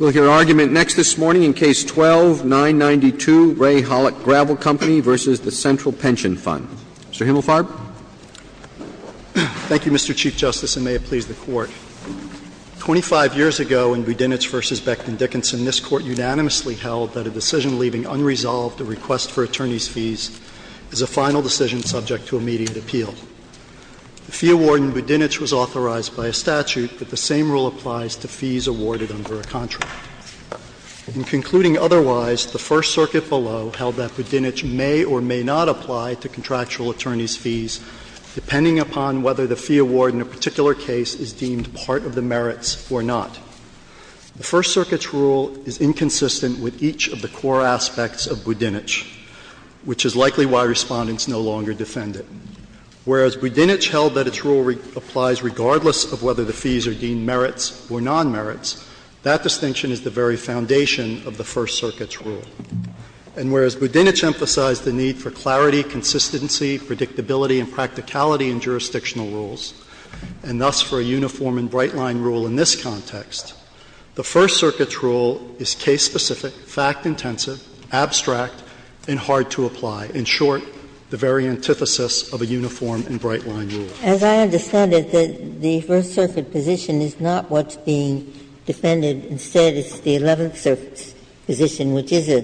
We'll hear argument next this morning in Case 12-992, Ray Haluch Gravel Company v. the Central Pension Fund. Mr. Himmelfarb. Thank you, Mr. Chief Justice, and may it please the Court. Twenty-five years ago, in Budinich v. Becton Dickinson, this Court unanimously held that a decision leaving unresolved a request for attorneys' fees is a final decision subject to immediate appeal. The fee award in Budinich was authorized by a statute, but the same rule applies to fees awarded under a contract. In concluding otherwise, the First Circuit below held that Budinich may or may not apply to contractual attorneys' fees depending upon whether the fee award in a particular case is deemed part of the merits or not. The First Circuit's rule is inconsistent with each of the core aspects of Budinich, which is likely why Respondents no longer defend it. Whereas Budinich held that its rule applies regardless of whether the fees are deemed merits or nonmerits, that distinction is the very foundation of the First Circuit's rule. And whereas Budinich emphasized the need for clarity, consistency, predictability and practicality in jurisdictional rules, and thus for a uniform and bright-line rule in this context, the First Circuit's rule is case-specific, fact-intensive, abstract, and hard to apply. In short, the very antithesis of a uniform and bright-line rule. Ginsburg-Miller As I understand it, the First Circuit position is not what's being defended. Instead, it's the Eleventh Circuit's position, which is a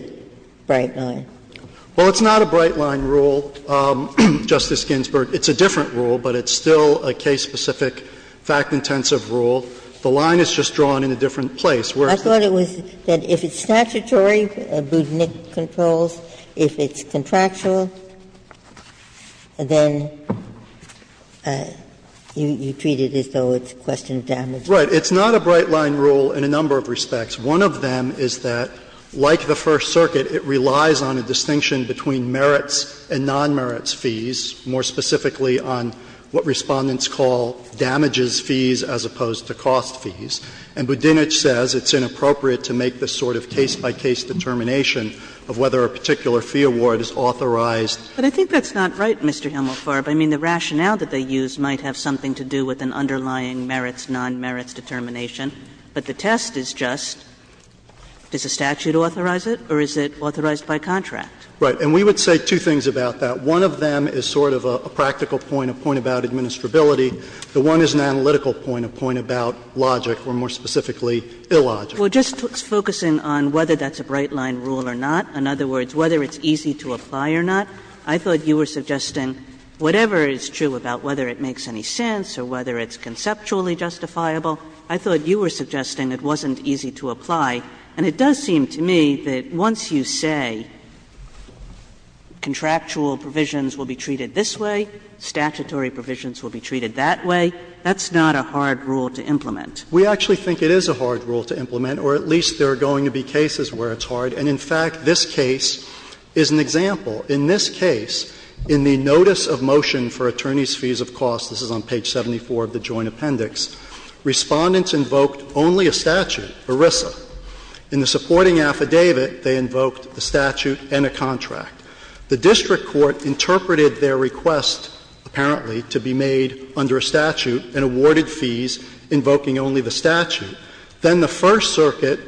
bright-line. Well, it's not a bright-line rule, Justice Ginsburg. It's a different rule, but it's still a case-specific, fact-intensive rule. The line is just drawn in a different place. I thought it was that if it's statutory, Budinich controls, if it's contractual, then you treat it as though it's a question of damages. Right. It's not a bright-line rule in a number of respects. One of them is that, like the First Circuit, it relies on a distinction between merits and nonmerits fees, more specifically on what Respondents call damages fees as opposed to cost fees. And Budinich says it's inappropriate to make this sort of case-by-case determination of whether a particular fee award is authorized. But I think that's not right, Mr. Helmelfarb. I mean, the rationale that they use might have something to do with an underlying merits-nonmerits determination, but the test is just, does the statute authorize it, or is it authorized by contract? Right. And we would say two things about that. One of them is sort of a practical point, a point about administrability. The one is an analytical point, a point about logic, or more specifically, illogic. Well, just focusing on whether that's a bright-line rule or not, in other words, whether it's easy to apply or not, I thought you were suggesting, whatever is true about whether it makes any sense or whether it's conceptually justifiable, I thought you were suggesting it wasn't easy to apply. And it does seem to me that once you say contractual provisions will be treated this way, statutory provisions will be treated that way, that's not a hard rule to implement. We actually think it is a hard rule to implement, or at least there are going to be cases where it's hard. And in fact, this case is an example. In this case, in the notice of motion for attorneys' fees of cost, this is on page 74 of the Joint Appendix, Respondents invoked only a statute, ERISA. In the supporting affidavit, they invoked a statute and a contract. The district court interpreted their request, apparently, to be made under a statute and awarded fees invoking only the statute. Then the First Circuit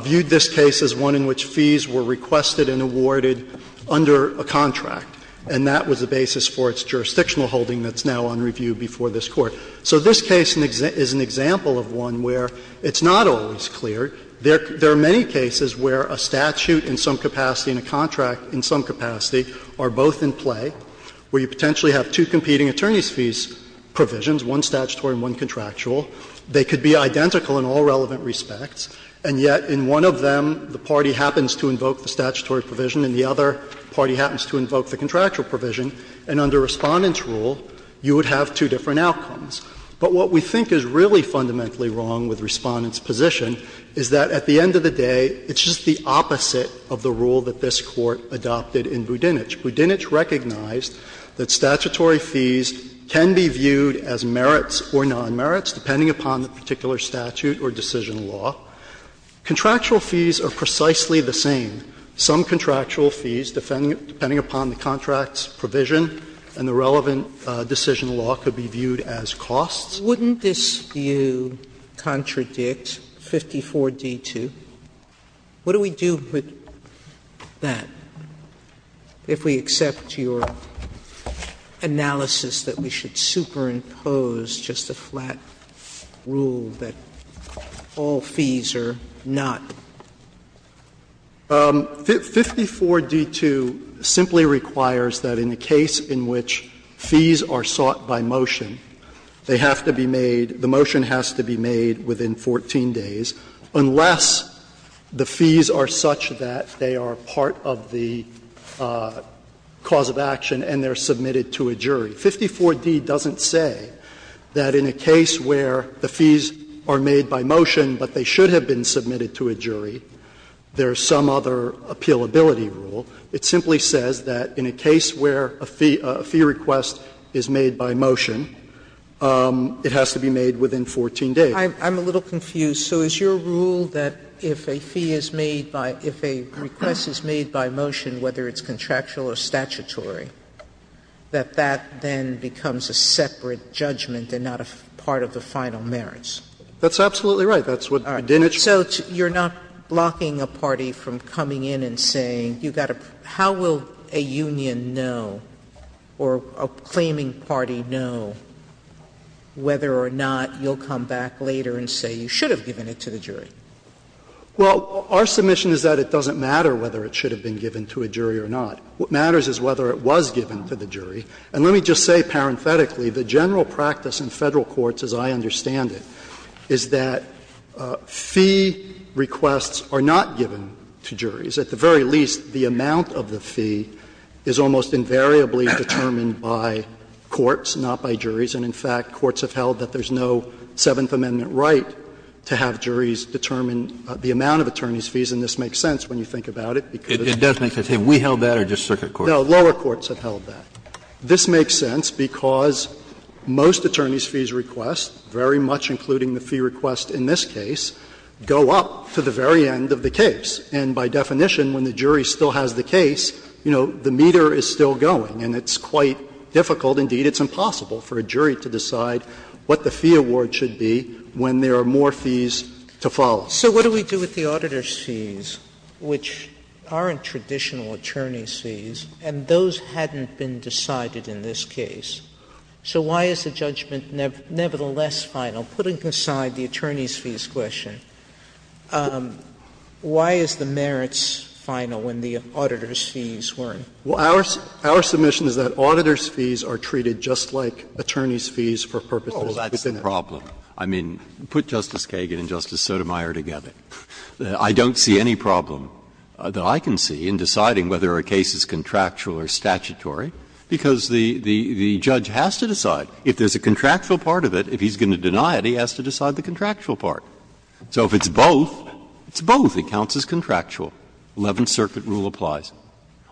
viewed this case as one in which fees were requested and awarded under a contract. And that was the basis for its jurisdictional holding that's now on review before this Court. So this case is an example of one where it's not always clear. There are many cases where a statute in some capacity and a contract in some capacity are both in play, where you potentially have two competing attorneys' fees provisions, one statutory and one contractual. They could be identical in all relevant respects, and yet in one of them the party happens to invoke the statutory provision and the other party happens to invoke the contractual provision, and under Respondent's rule you would have two different outcomes. But what we think is really fundamentally wrong with Respondent's position is that at the end of the day it's just the opposite of the rule that this Court adopted in Budinich. Budinich recognized that statutory fees can be viewed as merits or nonmerits depending upon the particular statute or decision law. Contractual fees are precisely the same. Some contractual fees, depending upon the contract's provision and the relevant decision law, could be viewed as costs. Sotomayor, wouldn't this view contradict 54d-2? What do we do with that? If we accept your analysis that we should superimpose just a flat rule that all fees are not? 54d-2 simply requires that in a case in which fees are sought by motion, they have to be made, the motion has to be made within 14 days, unless the fees are such that they are part of the cause of action and they are submitted to a jury. 54d doesn't say that in a case where the fees are made by motion but they should have been submitted to a jury, there is some other appealability rule. It simply says that in a case where a fee request is made by motion, it has to be made within 14 days. Sotomayor, I'm a little confused. So is your rule that if a fee is made by – if a request is made by motion, whether it's contractual or statutory, that that then becomes a separate judgment and not a part of the final merits? That's absolutely right. That's what Boudinich said. So you're not blocking a party from coming in and saying you've got to – how will a union know or a claiming party know whether or not you'll come back later and say you should have given it to the jury? Well, our submission is that it doesn't matter whether it should have been given to a jury or not. What matters is whether it was given to the jury. And let me just say parenthetically, the general practice in Federal courts, as I understand it, is that fee requests are not given to juries. At the very least, the amount of the fee is almost invariably determined by courts, not by juries. And in fact, courts have held that there's no Seventh Amendment right to have juries determine the amount of attorneys' fees. And this makes sense when you think about it, because it's a separate judgment. It does make sense. Have we held that or just circuit courts? No, lower courts have held that. This makes sense because most attorneys' fees requests, very much including the fee request in this case, go up to the very end of the case. And by definition, when the jury still has the case, you know, the meter is still going. And it's quite difficult, indeed it's impossible, for a jury to decide what the fee award should be when there are more fees to follow. Sotomayor So what do we do with the auditor's fees, which aren't traditional attorneys' fees, and those hadn't been decided in this case? So why is the judgment nevertheless final? Putting aside the attorneys' fees question, why is the merits final when the auditor's fees weren't? Well, our submission is that auditor's fees are treated just like attorneys' fees for purposes within it. Breyer Oh, that's the problem. I mean, put Justice Kagan and Justice Sotomayor together. I don't see any problem that I can see in deciding whether a case is contractual or statutory, because the judge has to decide. If there's a contractual part of it, if he's going to deny it, he has to decide the contractual part. So if it's both, it's both. It counts as contractual. Eleventh Circuit rule applies.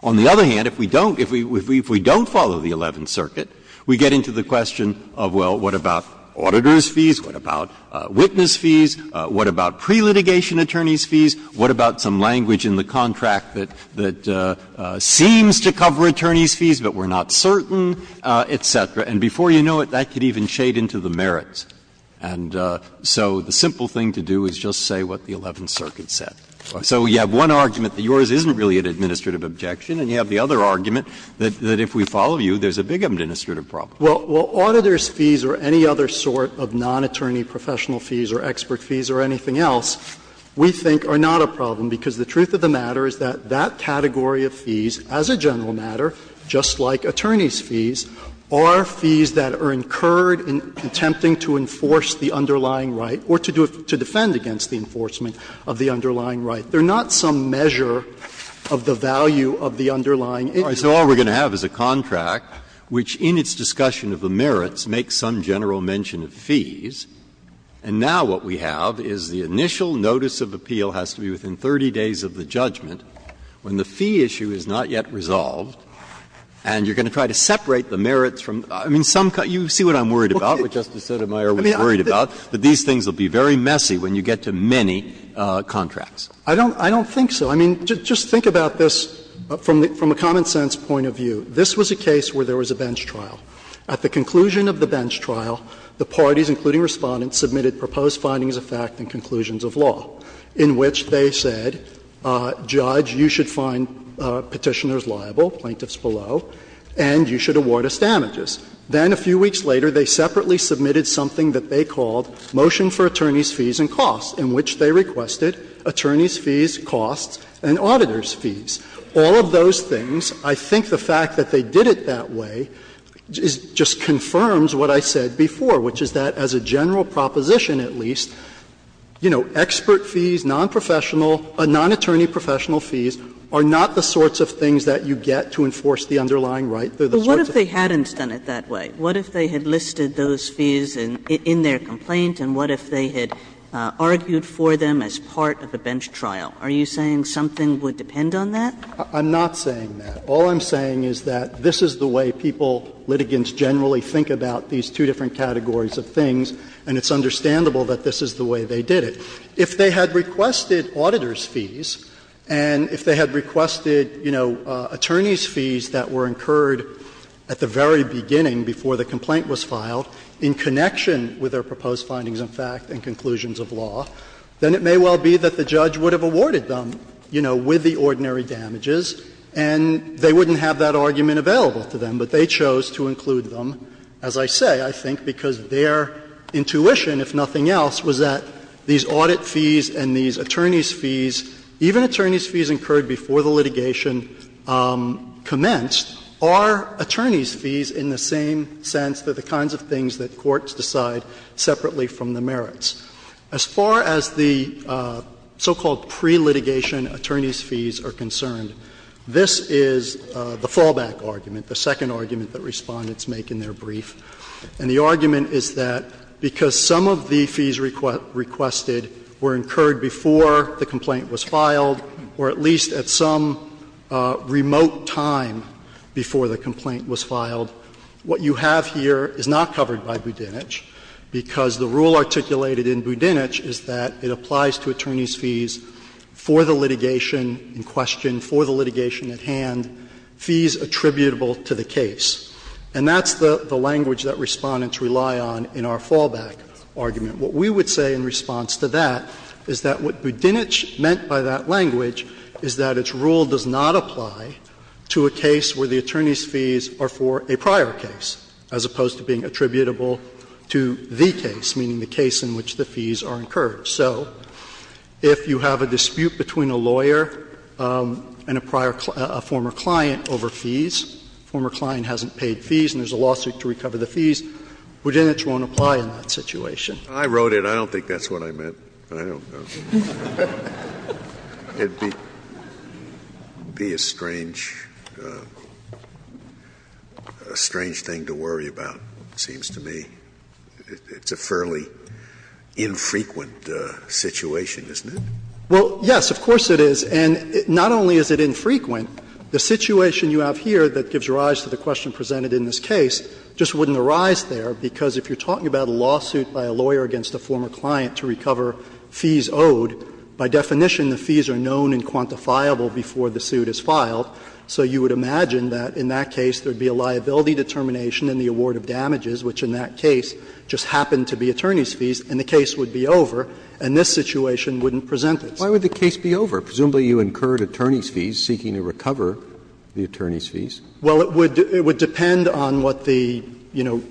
On the other hand, if we don't follow the Eleventh Circuit, we get into the question of, well, what about auditor's fees, what about witness fees, what about prelitigation attorneys' fees, what about some language in the contract that seems to cover attorneys' fees but we're not certain, et cetera. And before you know it, that could even shade into the merits. And so the simple thing to do is just say what the Eleventh Circuit said. So you have one argument that yours isn't really an administrative objection, and you have the other argument that if we follow you, there's a big administrative problem. Well, auditor's fees or any other sort of non-attorney professional fees or expert fees or anything else, we think, are not a problem, because the truth of the matter is that that category of fees, as a general matter, just like attorney's fees, are fees that are incurred in attempting to enforce the underlying right or to defend against the enforcement of the underlying right. They're not some measure of the value of the underlying interest. Breyer. So all we're going to have is a contract which, in its discussion of the merits, makes some general mention of fees. And now what we have is the initial notice of appeal has to be within 30 days of the judgment when the fee issue is not yet resolved, and you're going to try to separate the merits from the merits. I mean, you see what I'm worried about, what Justice Sotomayor was worried about, that these things will be very messy when you get to many contracts. I don't think so. I mean, just think about this from a common-sense point of view. This was a case where there was a bench trial. At the conclusion of the bench trial, the parties, including Respondents, submitted proposed findings of fact and conclusions of law, in which they said, Judge, you should find Petitioners liable, Plaintiffs below, and you should award us damages. Then a few weeks later, they separately submitted something that they called Motion for Attorney's Fees and Costs, in which they requested attorney's fees, costs, and auditor's fees. All of those things, I think the fact that they did it that way just confirms what I said before, which is that as a general proposition, at least, you know, expert fees, nonprofessional, non-attorney professional fees are not the sorts of things that you get to enforce the underlying right. Kagan. Kagan. Kagan. But what if they hadn't done it that way? What if they had listed those fees in their complaint, and what if they had argued for them as part of a bench trial? Are you saying something would depend on that? I'm not saying that. All I'm saying is that this is the way people, litigants, generally think about these two different categories of things, and it's understandable that this is the way they did it. If they had requested auditor's fees and if they had requested, you know, attorney's fees that were incurred at the very beginning before the complaint was filed in connection with their proposed findings of fact and conclusions of law, then it may well be that the judge would have awarded them, you know, with the ordinary damages, and they wouldn't have that argument available to them, but they chose to include them, as I say, I think, because their intuition, if nothing else, was that these audit fees and these attorney's fees, even attorney's fees incurred before the litigation commenced, are attorney's fees in the same sense that the kinds of things that courts decide separately from the merits. As far as the so-called pre-litigation attorney's fees are concerned, this is the fallback argument, the second argument that Respondents make in their brief. And the argument is that because some of the fees requested were incurred before the complaint was filed, or at least at some remote time before the complaint was filed, what you have here is not covered by Budinich, because the rule articulated in Budinich is that it applies to attorney's fees for the litigation in question, for the litigation at hand, fees attributable to the case. And that's the language that Respondents rely on in our fallback argument. What we would say in response to that is that what Budinich meant by that language is that its rule does not apply to a case where the attorney's fees are for a prior case, as opposed to being attributable to the case, meaning the case in which the fees are incurred. So if you have a dispute between a lawyer and a prior client, a former client, over fees, former client hasn't paid fees and there's a lawsuit to recover the fees, Budinich won't apply in that situation. Scalia, I wrote it. I don't think that's what I meant. I don't know. It would be a strange, a strange thing to worry about, it seems to me. It's a fairly infrequent situation, isn't it? Well, yes, of course it is. And not only is it infrequent, the situation you have here that gives rise to the question presented in this case just wouldn't arise there, because if you're talking about a lawsuit by a lawyer against a former client to recover fees owed, by definition the fees are known and quantifiable before the suit is filed. So you would imagine that in that case there would be a liability determination in the award of damages, which in that case just happened to be attorney's fees, and the case would be over, and this situation wouldn't present this. Why would the case be over? Presumably you incurred attorney's fees seeking to recover the attorney's fees. Well, it would depend on what the, you know,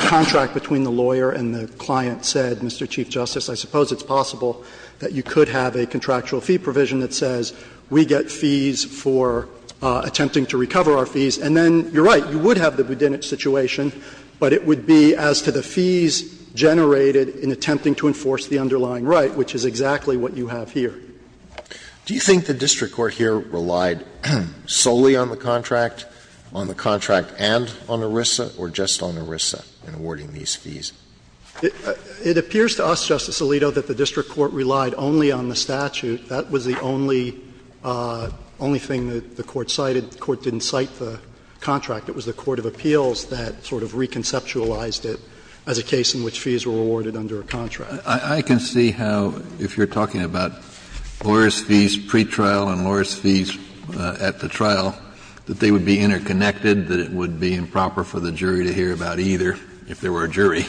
contract between the lawyer and the client said, Mr. Chief Justice. I suppose it's possible that you could have a contractual fee provision that says we get fees for attempting to recover our fees, and then you're right, you would have the budinich situation, but it would be as to the fees generated in attempting to enforce the underlying right, which is exactly what you have here. Do you think the district court here relied solely on the contract, on the contract and on ERISA, or just on ERISA in awarding these fees? It appears to us, Justice Alito, that the district court relied only on the statute. That was the only thing that the court cited. The court didn't cite the contract. It was the court of appeals that sort of reconceptualized it as a case in which fees were awarded under a contract. I can see how, if you're talking about lawyers' fees pretrial and lawyers' fees at the trial, that they would be interconnected, that it would be improper for the jury to hear about either, if there were a jury.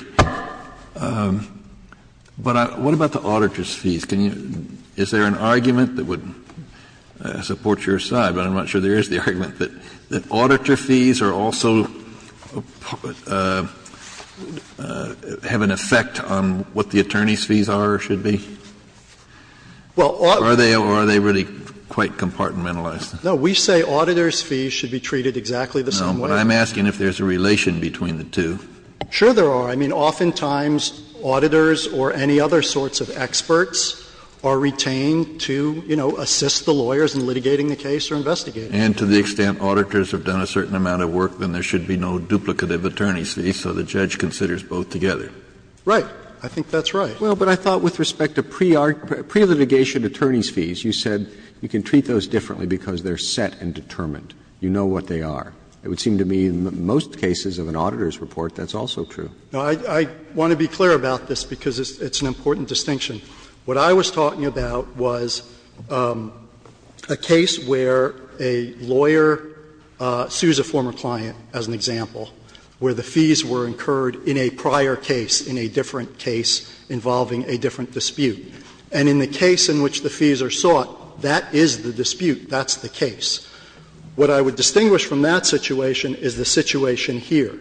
But what about the auditor's fees? Can you — is there an argument that would support your side, but I'm not sure there is, the argument that auditor fees are also, have an effect on what the attorney's fees are or should be? Or are they really quite compartmentalized? No, we say auditor's fees should be treated exactly the same way. No, but I'm asking if there's a relation between the two. Sure there are. I mean, oftentimes auditors or any other sorts of experts are retained to, you know, assist the lawyers in litigating the case or investigating it. And to the extent auditors have done a certain amount of work, then there should be no duplicative attorney's fees, so the judge considers both together. Right. I think that's right. Well, but I thought with respect to pre-litigation attorney's fees, you said you can treat those differently because they're set and determined. You know what they are. It would seem to me in most cases of an auditor's report, that's also true. I want to be clear about this because it's an important distinction. What I was talking about was a case where a lawyer sues a former client, as an example, where the fees were incurred in a prior case, in a different case involving a different dispute. And in the case in which the fees are sought, that is the dispute. That's the case. What I would distinguish from that situation is the situation here,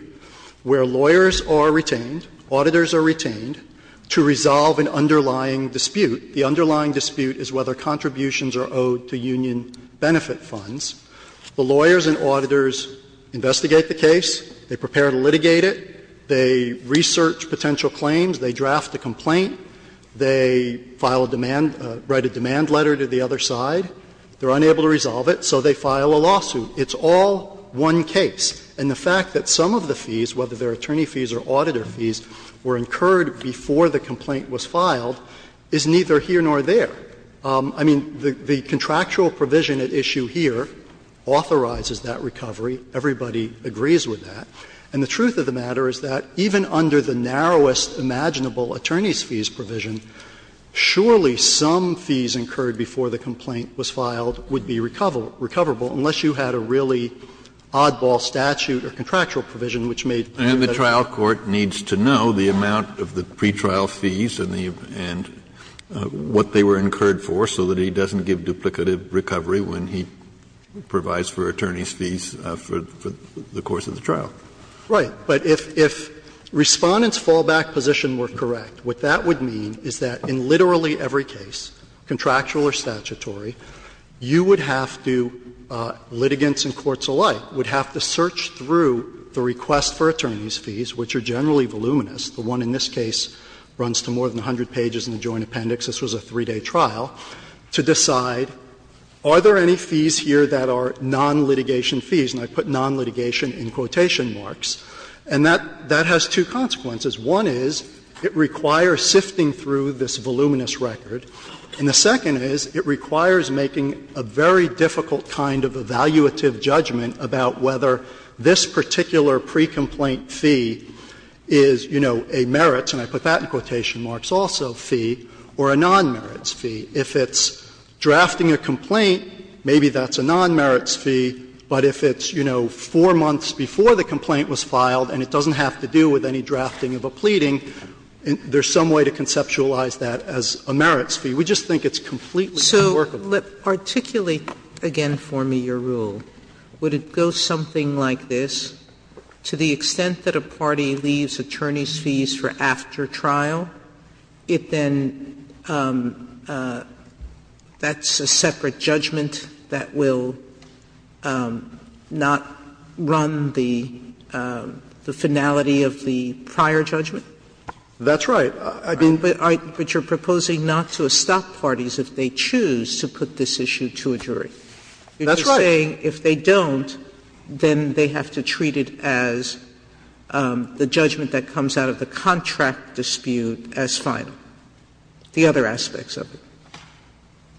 where lawyers are retained, auditors are retained, to resolve an underlying dispute. The underlying dispute is whether contributions are owed to union benefit funds. The lawyers and auditors investigate the case, they prepare to litigate it, they research potential claims, they draft the complaint, they file a demand, write a demand letter to the other side. They're unable to resolve it, so they file a lawsuit. It's all one case. And the fact that some of the fees, whether they're attorney fees or auditor fees, were incurred before the complaint was filed is neither here nor there. I mean, the contractual provision at issue here authorizes that recovery. Everybody agrees with that. And the truth of the matter is that even under the narrowest imaginable attorneys' fees provision, surely some fees incurred before the complaint was filed would be recoverable, unless you had a really oddball statute or contractual provision which made clear that. Kennedy, and the trial court needs to know the amount of the pretrial fees and the amount, what they were incurred for, so that he doesn't give duplicative recovery when he provides for attorney's fees for the course of the trial. Right. But if Respondent's fallback position were correct, what that would mean is that in litigants and courts alike would have to search through the request for attorney's fees, which are generally voluminous, the one in this case runs to more than 100 pages in the joint appendix, this was a 3-day trial, to decide, are there any fees here that are non-litigation fees, and I put non-litigation in quotation marks, and that has two consequences. One is it requires sifting through this voluminous record, and the second is it requires making a very difficult kind of evaluative judgment about whether this particular pre-complaint fee is, you know, a merits, and I put that in quotation marks also, fee, or a non-merits fee. If it's drafting a complaint, maybe that's a non-merits fee, but if it's, you know, 4 months before the complaint was filed and it doesn't have to do with any drafting of a pleading, there's some way to conceptualize that as a merits fee. We just think it's completely unworkable. Sotomayor, let's articulate again for me your rule. Would it go something like this, to the extent that a party leaves attorney's fees for after trial, it then, that's a separate judgment that will not run the finality of the prior judgment? That's right. Sotomayor, I mean, but you're proposing not to stop parties if they choose to put this issue to a jury. That's right. You're saying if they don't, then they have to treat it as the judgment that comes out of the contract dispute as final, the other aspects of it.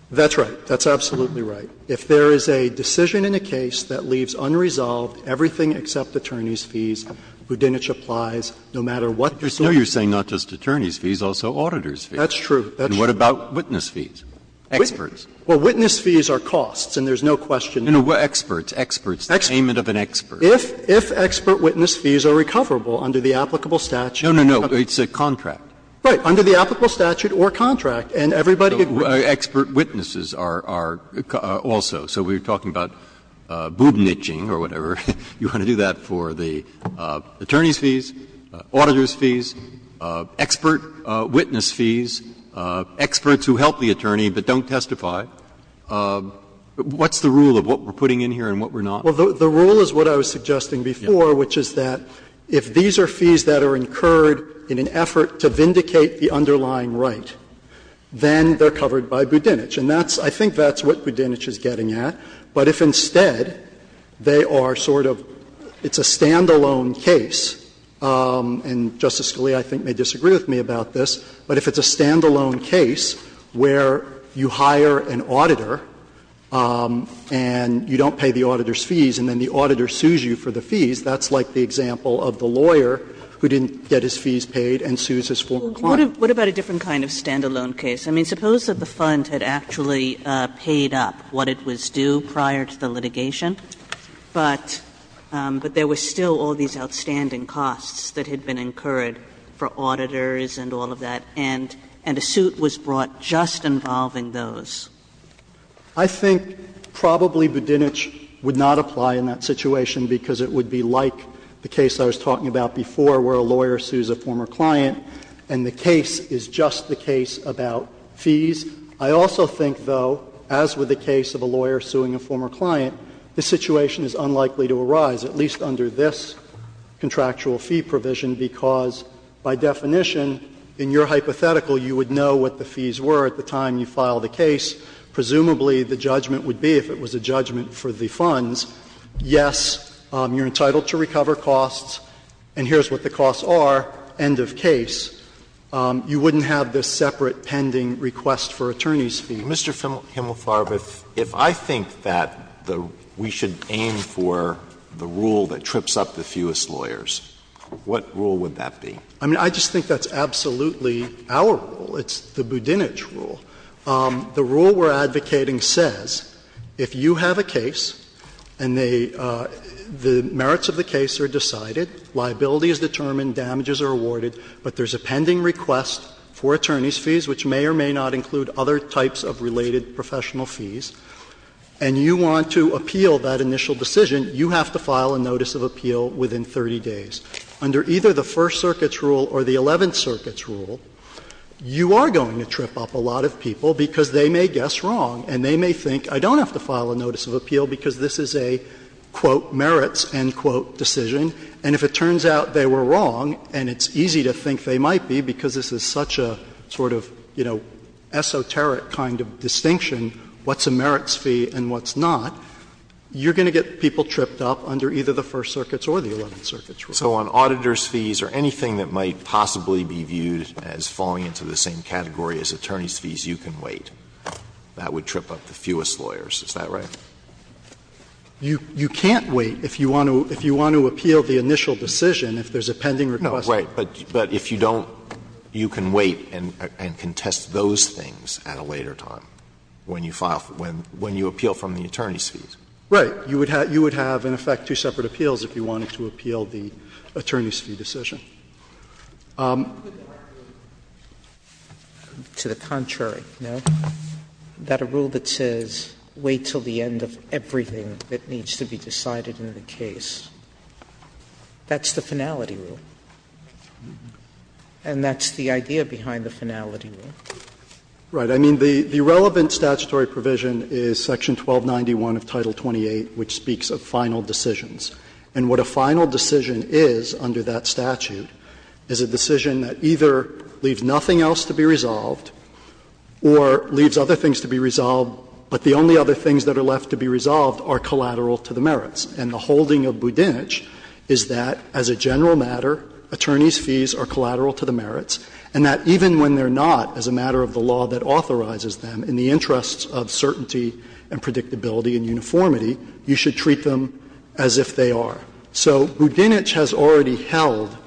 That's right. That's absolutely right. If there is a decision in a case that leaves unresolved everything except attorney's fees, Budinich applies no matter what the suit is. No, you're saying not just attorney's fees, also auditor's fees. That's true. And what about witness fees, experts? Well, witness fees are costs, and there's no question. No, no, experts, experts, the payment of an expert. If expert witness fees are recoverable under the applicable statute. No, no, no. It's a contract. Right. Under the applicable statute or contract, and everybody would agree. Expert witnesses are also. So we're talking about boob niching or whatever. You want to do that for the attorney's fees, auditor's fees, expert witness fees, experts who help the attorney but don't testify. What's the rule of what we're putting in here and what we're not? Well, the rule is what I was suggesting before, which is that if these are fees that are incurred in an effort to vindicate the underlying right, then they're covered by Budinich. And that's – I think that's what Budinich is getting at. But if instead they are sort of – it's a standalone case, and Justice Scalia, I think, may disagree with me about this, but if it's a standalone case where you hire an auditor and you don't pay the auditor's fees and then the auditor sues you for the fees, that's like the example of the lawyer who didn't get his fees paid and sues his former client. What about a different kind of standalone case? I mean, suppose that the Fund had actually paid up what it was due prior to the litigation, but there were still all these outstanding costs that had been incurred for auditors and all of that, and a suit was brought just involving those. I think probably Budinich would not apply in that situation because it would be like the case I was talking about before where a lawyer sues a former client and the case is just the case about fees. I also think, though, as with the case of a lawyer suing a former client, the situation is unlikely to arise, at least under this contractual fee provision, because by definition, in your hypothetical, you would know what the fees were at the time you filed a case. Presumably, the judgment would be, if it was a judgment for the Funds, yes, you're entitled to recover costs, and here's what the costs are, end of case. You wouldn't have this separate pending request for attorneys' fees. Alito Mr. Himmelfarb, if I think that we should aim for the rule that trips up the fewest lawyers, what rule would that be? I mean, I just think that's absolutely our rule. It's the Budinich rule. The rule we're advocating says if you have a case and the merits of the case are decided, liability is determined, damages are awarded, but there's a pending request for attorneys' fees, which may or may not include other types of related professional fees, and you want to appeal that initial decision, you have to file a notice of appeal within 30 days. Under either the First Circuit's rule or the Eleventh Circuit's rule, you are going to trip up a lot of people because they may guess wrong and they may think, I don't have to file a notice of appeal because this is a, quote, merits, end quote, decision. And if it turns out they were wrong, and it's easy to think they might be because this is such a sort of, you know, esoteric kind of distinction, what's a merits fee and what's not, you're going to get people tripped up under either the First Circuit's or the Eleventh Circuit's rule. So on auditors' fees or anything that might possibly be viewed as falling into the same category as attorneys' fees, you can wait. That would trip up the fewest lawyers. Is that right? You can't wait if you want to appeal the initial decision, if there's a pending request. Alito, but if you don't, you can wait and contest those things at a later time, when you file, when you appeal from the attorneys' fees. Right. You would have, in effect, two separate appeals if you wanted to appeal the attorneys' fee decision. Sotomayor, to the contrary, no? That a rule that says wait until the end of everything that needs to be decided in the case, that's the finality rule. And that's the idea behind the finality rule. Right. I mean, the relevant statutory provision is section 1291 of Title 28, which speaks of final decisions. And what a final decision is under that statute is a decision that either leaves nothing else to be resolved or leaves other things to be resolved, but the only other things that are left to be resolved are collateral to the merits. And the holding of Budinich is that, as a general matter, attorneys' fees are collateral to the merits, and that even when they're not, as a matter of the law that authorizes them, in the interests of certainty and predictability and uniformity, you should treat them as if they are. So Budinich has already held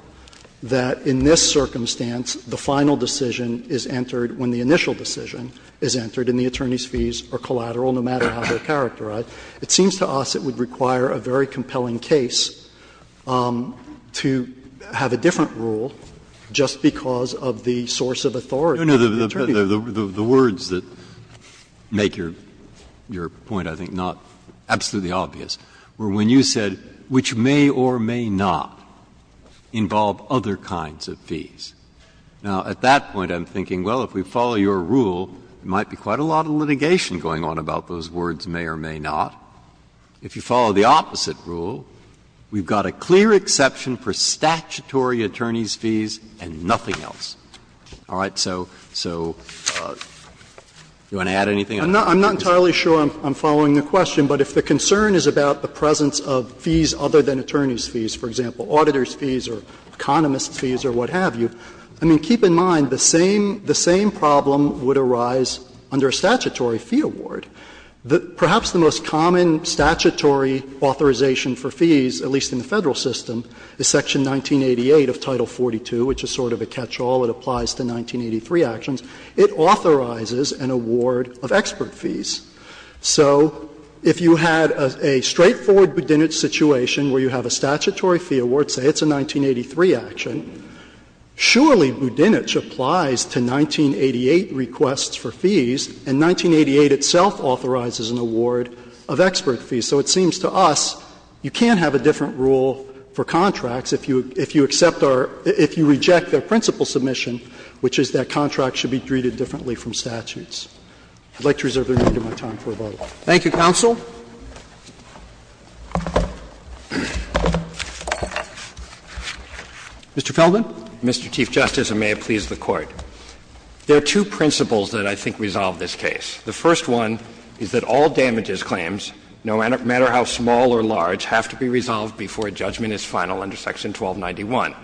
that in this circumstance, the final decision is entered when the initial decision is entered, and the attorneys' fees are collateral no matter how they're characterized. It seems to us it would require a very compelling case to have a different rule just because of the source of authority of the attorney. Breyer, the words that make your point, I think, not absolutely obvious, were when you said, which may or may not involve other kinds of fees. Now, at that point, I'm thinking, well, if we follow your rule, there might be quite a lot of litigation going on about those words, may or may not. If you follow the opposite rule, we've got a clear exception for statutory attorneys' fees and nothing else. All right? So do you want to add anything? I'm not entirely sure I'm following the question, but if the concern is about the presence of fees other than attorneys' fees, for example, auditors' fees or economists' fees or what have you, I mean, keep in mind the same problem would arise under a statutory fee award. Perhaps the most common statutory authorization for fees, at least in the Federal system, is section 1988 of Title 42, which is sort of a catch-all. It applies to 1983 actions. It authorizes an award of expert fees. So if you had a straightforward Budinich situation where you have a statutory fee award, say it's a 1983 action, surely Budinich applies to 1988 requests for fees, and 1988 itself authorizes an award of expert fees. So it seems to us you can't have a different rule for contracts if you accept or if you reject their principal submission, which is that contracts should be treated differently from statutes. I'd like to reserve the remainder of my time for rebuttal. Roberts. Thank you, counsel. Mr. Feldman. Mr. Chief Justice, and may it please the Court. There are two principles that I think resolve this case. The first one is that all damages claims, no matter how small or large, have to be resolved before a judgment is final under section 1291.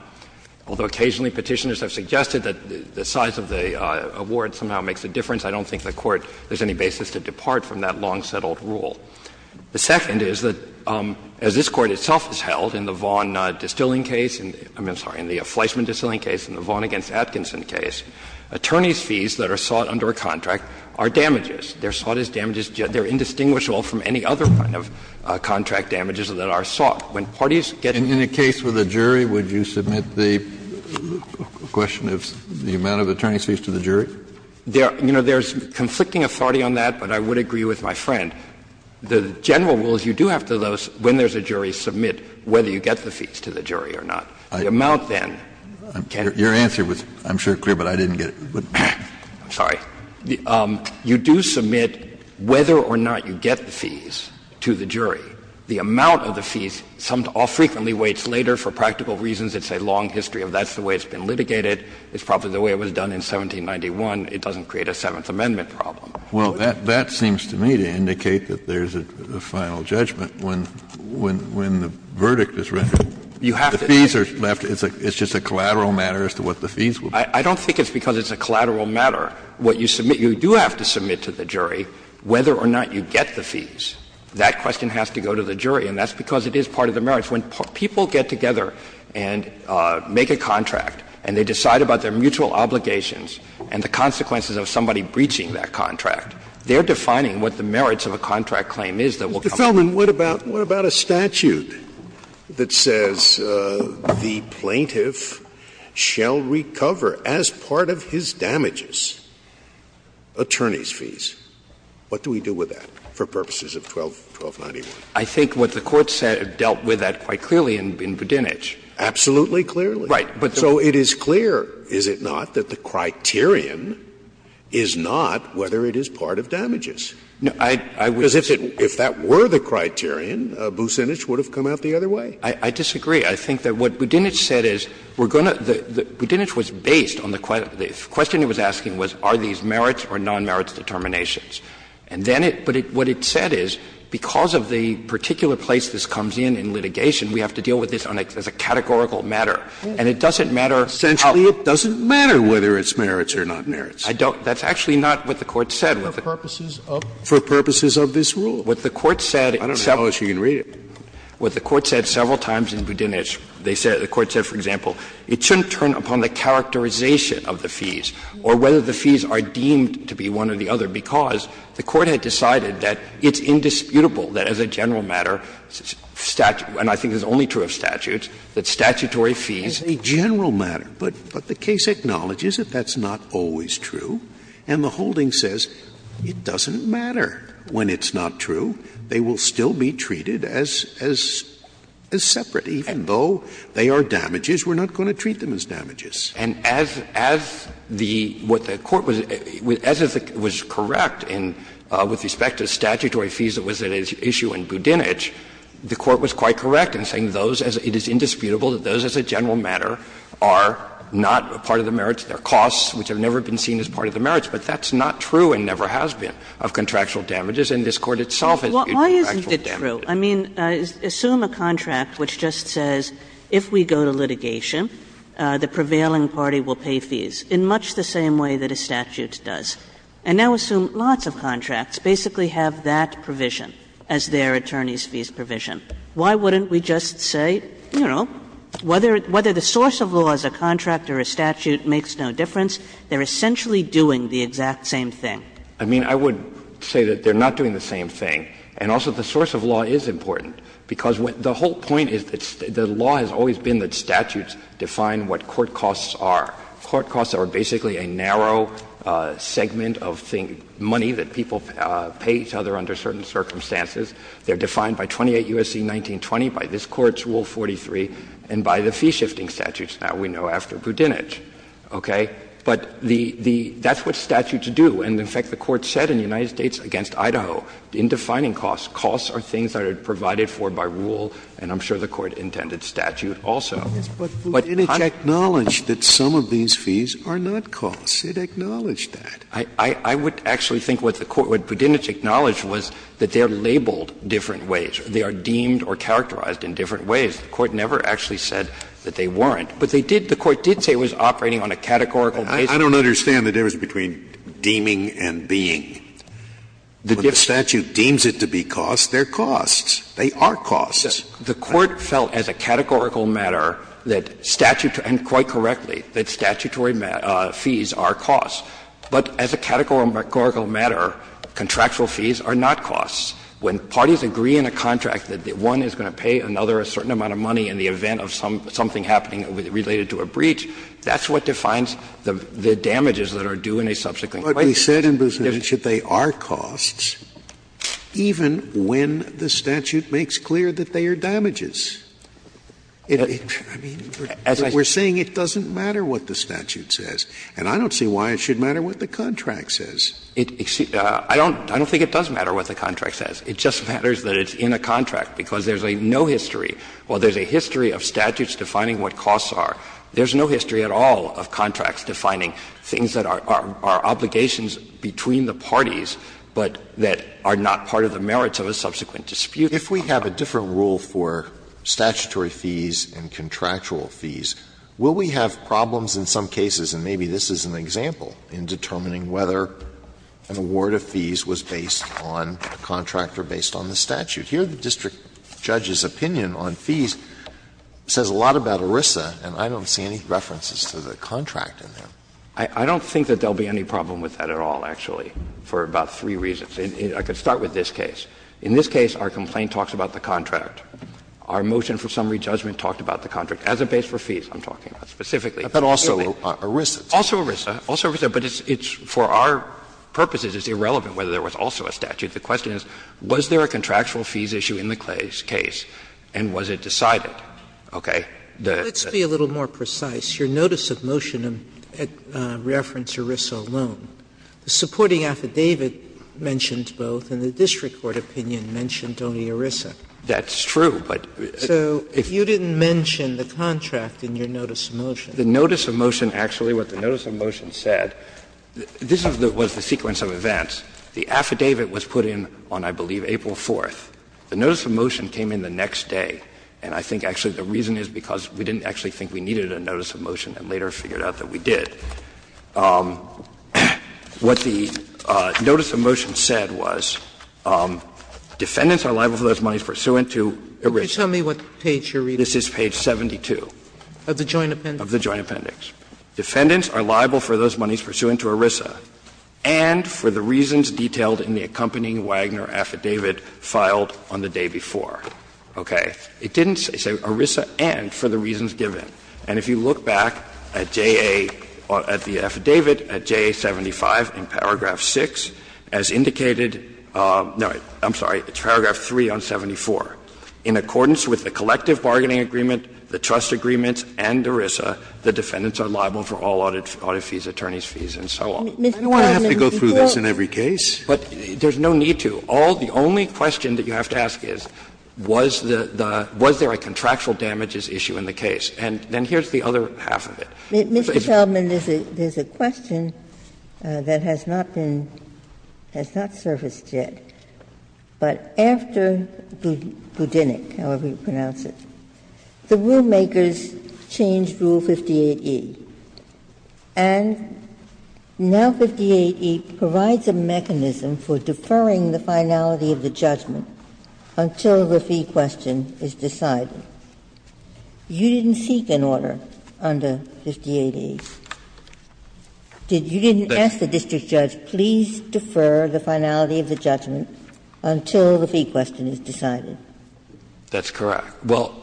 Although occasionally Petitioners have suggested that the size of the award somehow makes a difference, I don't think the Court has any basis to depart from that long-settled rule. The second is that, as this Court itself has held in the Vaughn distilling case, I'm sorry, in the Fleischman distilling case, in the Vaughn v. Atkinson case, attorneys' fees that are sought under a contract are damages. They are sought as damages, yet they are indistinguishable from any other kind of contract damages that are sought. When parties get the fees. Kennedy, in a case with a jury, would you submit the question of the amount of attorney's fees to the jury? You know, there's conflicting authority on that, but I would agree with my friend. The general rule is you do have to, when there's a jury, submit whether you get the fees to the jury or not. The amount, then, can't be determined. Your answer was, I'm sure, clear, but I didn't get it. You do submit whether or not you get the fees to the jury. The amount of the fees all frequently waits later for practical reasons. It's a long history of that's the way it's been litigated. It's probably the way it was done in 1791. It doesn't create a Seventh Amendment problem. Well, that seems to me to indicate that there's a final judgment when the verdict is rendered. You have to. The fees are left. It's just a collateral matter as to what the fees will be. I don't think it's because it's a collateral matter. What you submit, you do have to submit to the jury whether or not you get the fees. That question has to go to the jury, and that's because it is part of the merits. When people get together and make a contract and they decide about their mutual obligations and the consequences of somebody breaching that contract, they're defining what the merits of a contract claim is that will come from that. Scalia, Mr. Feldman, what about a statute that says the plaintiff shall recover as part of his damages attorney's fees? What do we do with that for purposes of 1291? I think what the Court said dealt with that quite clearly in Budinich. Absolutely clearly. But there's a question. So it is clear, is it not, that the criterion is not whether it is part of damages? No, I would say that. Because if that were the criterion, Businich would have come out the other way. I disagree. I think that what Budinich said is we're going to the – Budinich was based on the question he was asking was are these merits or non-merits determinations. And then it – but what it said is because of the particular place this comes in in litigation, we have to deal with this as a categorical matter. And it doesn't matter how – Essentially, it doesn't matter whether it's merits or non-merits. I don't – that's actually not what the Court said. For purposes of – for purposes of this rule. What the Court said – I don't know how else you can read it. What the Court said several times in Budinich, they said – the Court said, for example, it shouldn't turn upon the characterization of the fees or whether the fees are deemed to be one or the other, because the Court had decided that it's indisputable that as a general matter, statute – and I think this is only true of statutes – that statutory fees. It's a general matter, but the case acknowledges that that's not always true, and the holding says it doesn't matter when it's not true. They will still be treated as separate, even though they are damages. We're not going to treat them as damages. And as – as the – what the Court was – as it was correct in – with respect to statutory fees that was at issue in Budinich, the Court was quite correct in saying those as – it is indisputable that those as a general matter are not a part of the merits. They're costs which have never been seen as part of the merits. But that's not true and never has been of contractual damages, and this Court itself has indisputed contractual damages. Kagan. Why isn't it true? I mean, assume a contract which just says if we go to litigation, the prevailing party will pay fees in much the same way that a statute does. And now assume lots of contracts basically have that provision as their attorneys' fees provision. Why wouldn't we just say, you know, whether – whether the source of law is a contract or a statute makes no difference, they're essentially doing the exact same thing? I mean, I would say that they're not doing the same thing. And also the source of law is important, because the whole point is that the law has always been that statutes define what court costs are. Court costs are basically a narrow segment of money that people pay each other under certain circumstances. They're defined by 28 U.S.C. 1920, by this Court's Rule 43, and by the fee-shifting statutes that we know after Budinich, okay? But the – that's what statutes do. And in fact, the Court said in the United States v. Idaho, in defining costs, costs are things that are provided for by rule, and I'm sure the Court intended statute also. Scalia, but Budinich acknowledged that some of these fees are not costs. It acknowledged that. I would actually think what the Court – what Budinich acknowledged was that they are labeled different ways. They are deemed or characterized in different ways. The Court never actually said that they weren't. But they did – the Court did say it was operating on a categorical basis. Scalia, I don't understand the difference between deeming and being. When the statute deems it to be costs, they're costs. They are costs. The Court felt as a categorical matter that statute – and quite correctly – that statutory fees are costs. But as a categorical matter, contractual fees are not costs. When parties agree in a contract that one is going to pay another a certain amount of money in the event of something happening related to a breach, that's what defines the damages that are due in a subsequent case. Scalia, but we said in Budinich that they are costs, even when the statute makes clear that they are damages. I mean, we're saying it doesn't matter what the statute says. And I don't see why it should matter what the contract says. I don't think it does matter what the contract says. It just matters that it's in a contract, because there's a no history. While there's a history of statutes defining what costs are, there's no history at all of contracts defining things that are obligations between the parties, but that are not part of the merits of a subsequent dispute. Alito, if we have a different rule for statutory fees and contractual fees, will we have problems in some cases, and maybe this is an example, in determining whether an award of fees was based on a contract or based on the statute? Here the district judge's opinion on fees says a lot about ERISA, and I don't see any references to the contract in there. I don't think that there will be any problem with that at all, actually, for about three reasons. I could start with this case. In this case, our complaint talks about the contract. Our motion for summary judgment talked about the contract as a base for fees, I'm talking about specifically. But also ERISA. Also ERISA. Also ERISA, but it's for our purposes, it's irrelevant whether there was also a statute. The question is, was there a contractual fees issue in the case, and was it decided? Okay? Sotomayor, let's be a little more precise. Your notice of motion referenced ERISA alone. The supporting affidavit mentioned both, and the district court opinion mentioned only ERISA. That's true, but if you didn't mention the contract in your notice of motion. The notice of motion actually, what the notice of motion said, this was the sequence of events. The affidavit was put in on, I believe, April 4th. The notice of motion came in the next day, and I think actually the reason is because we didn't actually think we needed a notice of motion and later figured out that we did. What the notice of motion said was, defendants are liable for those monies pursuant to ERISA. Sotomayor, what page are you reading? This is page 72. Of the joint appendix? Of the joint appendix. Defendants are liable for those monies pursuant to ERISA, and for the reasons detailed in the accompanying Wagner affidavit filed on the day before. Okay. It didn't say ERISA and for the reasons given. And if you look back at JA, at the affidavit at JA 75 in paragraph 6, as indicated no, I'm sorry, it's paragraph 3 on 74. In accordance with the collective bargaining agreement, the trust agreements and ERISA, the defendants are liable for all audit fees, attorney's fees, and so on. I don't want to have to go through this in every case. But there's no need to. All the only question that you have to ask is, was there a contractual damages issue in the case? And then here's the other half of it. Mr. Sheldon, there's a question that has not been, has not surfaced yet. But after Budinic, however you pronounce it, the rulemakers changed Rule 58e, and now 58e provides a mechanism for deferring the finality of the judgment until the fee question is decided. You didn't seek an order under 58e. You didn't ask the district judge, please defer the finality of the judgment until the fee question is decided. That's correct. Well,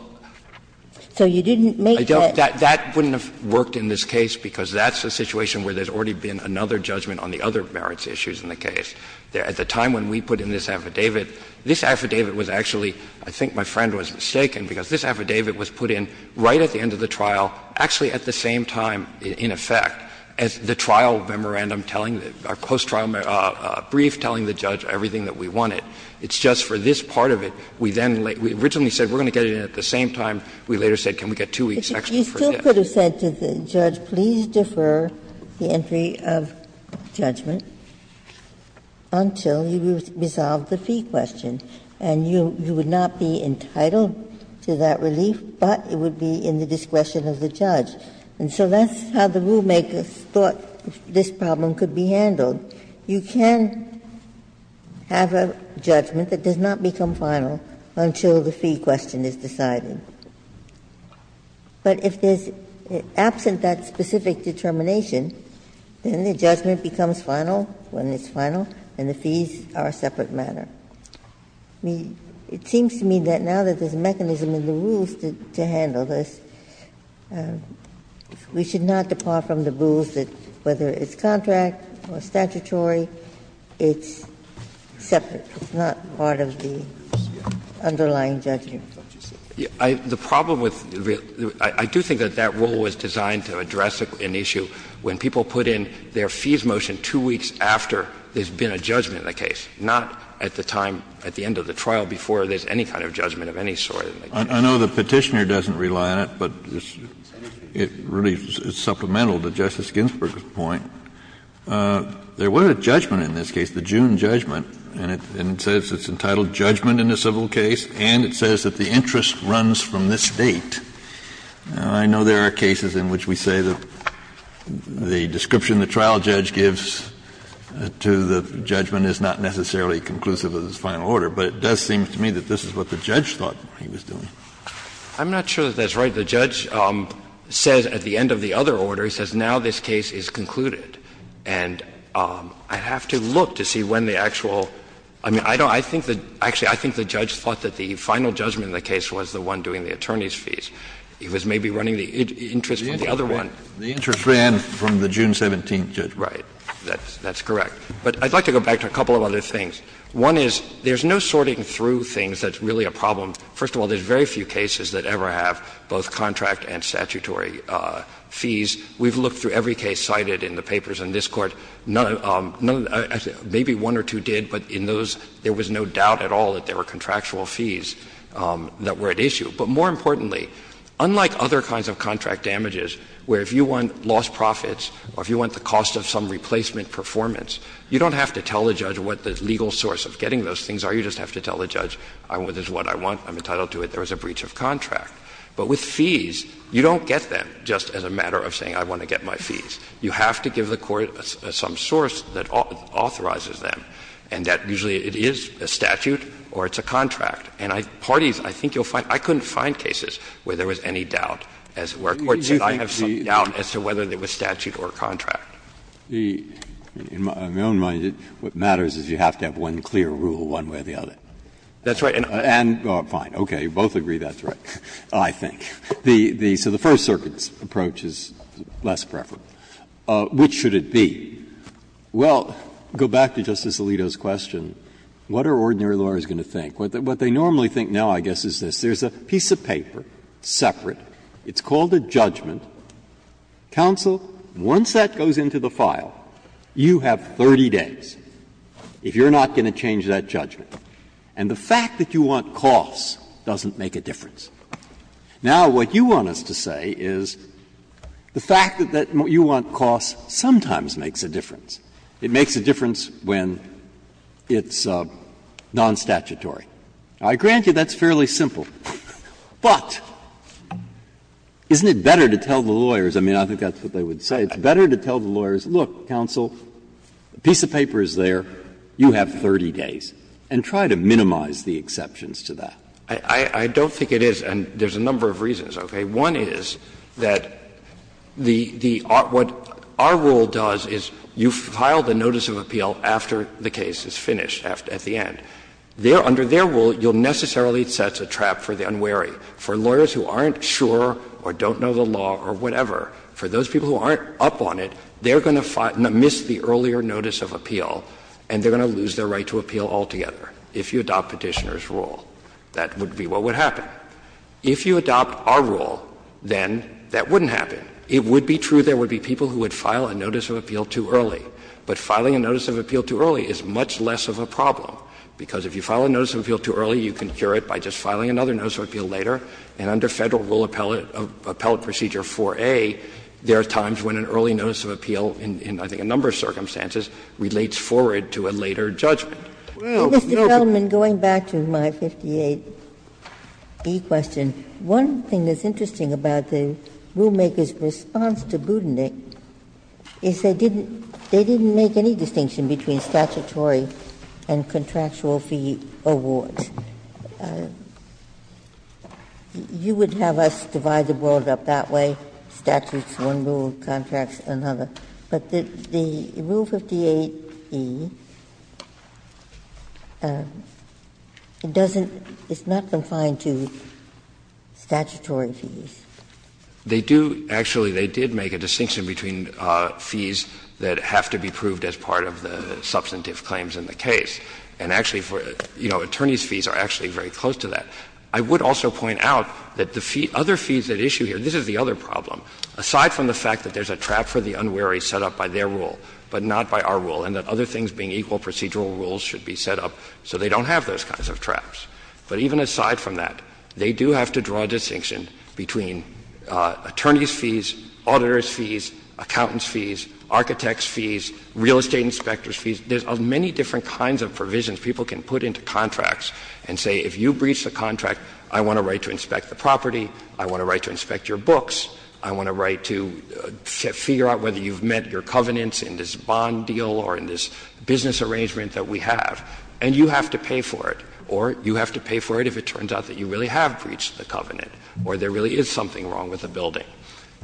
I don't think that wouldn't have worked in this case, because that's a situation where there's already been another judgment on the other merits issues in the case. At the time when we put in this affidavit, this affidavit was actually, I think my friend was mistaken, because this affidavit was put in right at the end of the trial, actually at the same time, in effect, as the trial memorandum telling, our post-trial brief telling the judge everything that we wanted. It's just for this part of it, we then, we originally said we're going to get it in at the same time. We later said, can we get two weeks, actually, for this? You could have said to the judge, please defer the entry of judgment until you resolve the fee question, and you would not be entitled to that relief, but it would be in the discretion of the judge. And so that's how the rulemakers thought this problem could be handled. You can have a judgment that does not become final until the fee question is decided. But if there's absent that specific determination, then the judgment becomes final when it's final, and the fees are a separate matter. It seems to me that now that there's a mechanism in the rules to handle this, we should not depart from the rules that whether it's contract or statutory, it's separate. It's not part of the underlying judgment. I do think that that rule was designed to address an issue when people put in their fees motion two weeks after there's been a judgment in the case, not at the time at the end of the trial before there's any kind of judgment of any sort. Kennedy, I know the Petitioner doesn't rely on it, but it's really supplemental to Justice Ginsburg's point. There was a judgment in this case, the June judgment, and it says it's entitled to a judgment in a civil case, and it says that the interest runs from this date. I know there are cases in which we say that the description the trial judge gives to the judgment is not necessarily conclusive of this final order, but it does seem to me that this is what the judge thought he was doing. I'm not sure that that's right. The judge says at the end of the other order, he says now this case is concluded. And I have to look to see when the actual – I mean, I don't – I think the – actually, I think the judge thought that the final judgment in the case was the one doing the attorney's fees. He was maybe running the interest from the other one. Kennedy, the interest ran from the June 17th judgment. Right. That's correct. But I'd like to go back to a couple of other things. One is, there's no sorting through things that's really a problem. First of all, there's very few cases that ever have both contract and statutory fees. We've looked through every case cited in the papers in this Court. None – maybe one or two did, but in those, there was no doubt at all that there were contractual fees that were at issue. But more importantly, unlike other kinds of contract damages, where if you want lost profits or if you want the cost of some replacement performance, you don't have to tell the judge what the legal source of getting those things are. You just have to tell the judge, this is what I want, I'm entitled to it, there was a breach of contract. But with fees, you don't get them just as a matter of saying, I want to get my fees. You have to give the Court some source that authorizes them, and that usually it is a statute or it's a contract. And parties, I think you'll find – I couldn't find cases where there was any doubt as to where courts said, I have some doubt as to whether it was statute or contract. Breyer, in my own mind, what matters is you have to have one clear rule one way or the other. That's right. And – oh, fine, okay, you both agree that's right. I think. So the First Circuit's approach is less preferable. Which should it be? Well, go back to Justice Alito's question, what are ordinary lawyers going to think? What they normally think now, I guess, is this. There's a piece of paper, separate, it's called a judgment. Counsel, once that goes into the file, you have 30 days if you're not going to change that judgment. And the fact that you want costs doesn't make a difference. Now, what you want us to say is the fact that you want costs sometimes makes a difference. It makes a difference when it's non-statutory. Now, I grant you that's fairly simple. But isn't it better to tell the lawyers – I mean, I think that's what they would say – it's better to tell the lawyers, look, counsel, the piece of paper is there, you have 30 days, and try to minimize the exceptions to that. I don't think it is, and there's a number of reasons, okay? One is that the – what our rule does is you file the notice of appeal after the case is finished, at the end. Under their rule, you'll necessarily set a trap for the unwary. For lawyers who aren't sure or don't know the law or whatever, for those people who aren't up on it, they're going to miss the earlier notice of appeal, and they're going to lose their right to appeal altogether if you adopt Petitioner's rule. That would be what would happen. If you adopt our rule, then that wouldn't happen. It would be true there would be people who would file a notice of appeal too early. But filing a notice of appeal too early is much less of a problem, because if you file a notice of appeal too early, you can cure it by just filing another notice of appeal later, and under Federal Rule Appellate Procedure 4A, there are times when an early notice of appeal in, I think, a number of circumstances relates forward to a later judgment. Ginsburg. Well, no. Ginsburg. Mr. Feldman, going back to my 58e question, one thing that's interesting about the rulemaker's response to Budenick is they didn't make any distinction between statutory and contractual fee awards. You would have us divide the world up that way, statutes, one rule, contracts, another, but the rule 58e, it doesn't – it's not confined to statutory fees. They do – actually, they did make a distinction between fees that have to be proved as part of the substantive claims in the case, and actually, you know, attorneys' fees are actually very close to that. I would also point out that the other fees at issue here, this is the other problem. Aside from the fact that there's a trap for the unwary set up by their rule, but not by our rule, and that other things being equal procedural rules should be set up so they don't have those kinds of traps, but even aside from that, they do have to draw a distinction between attorneys' fees, auditors' fees, accountants' fees, architects' fees, real estate inspectors' fees. There's many different kinds of provisions people can put into contracts and say, if you breach the contract, I want a right to inspect the property, I want a right to inspect your books, I want a right to figure out whether you've met your covenants in this bond deal or in this business arrangement that we have, and you have to pay for it, or you have to pay for it if it turns out that you really have breached the covenant, or there really is something wrong with the building.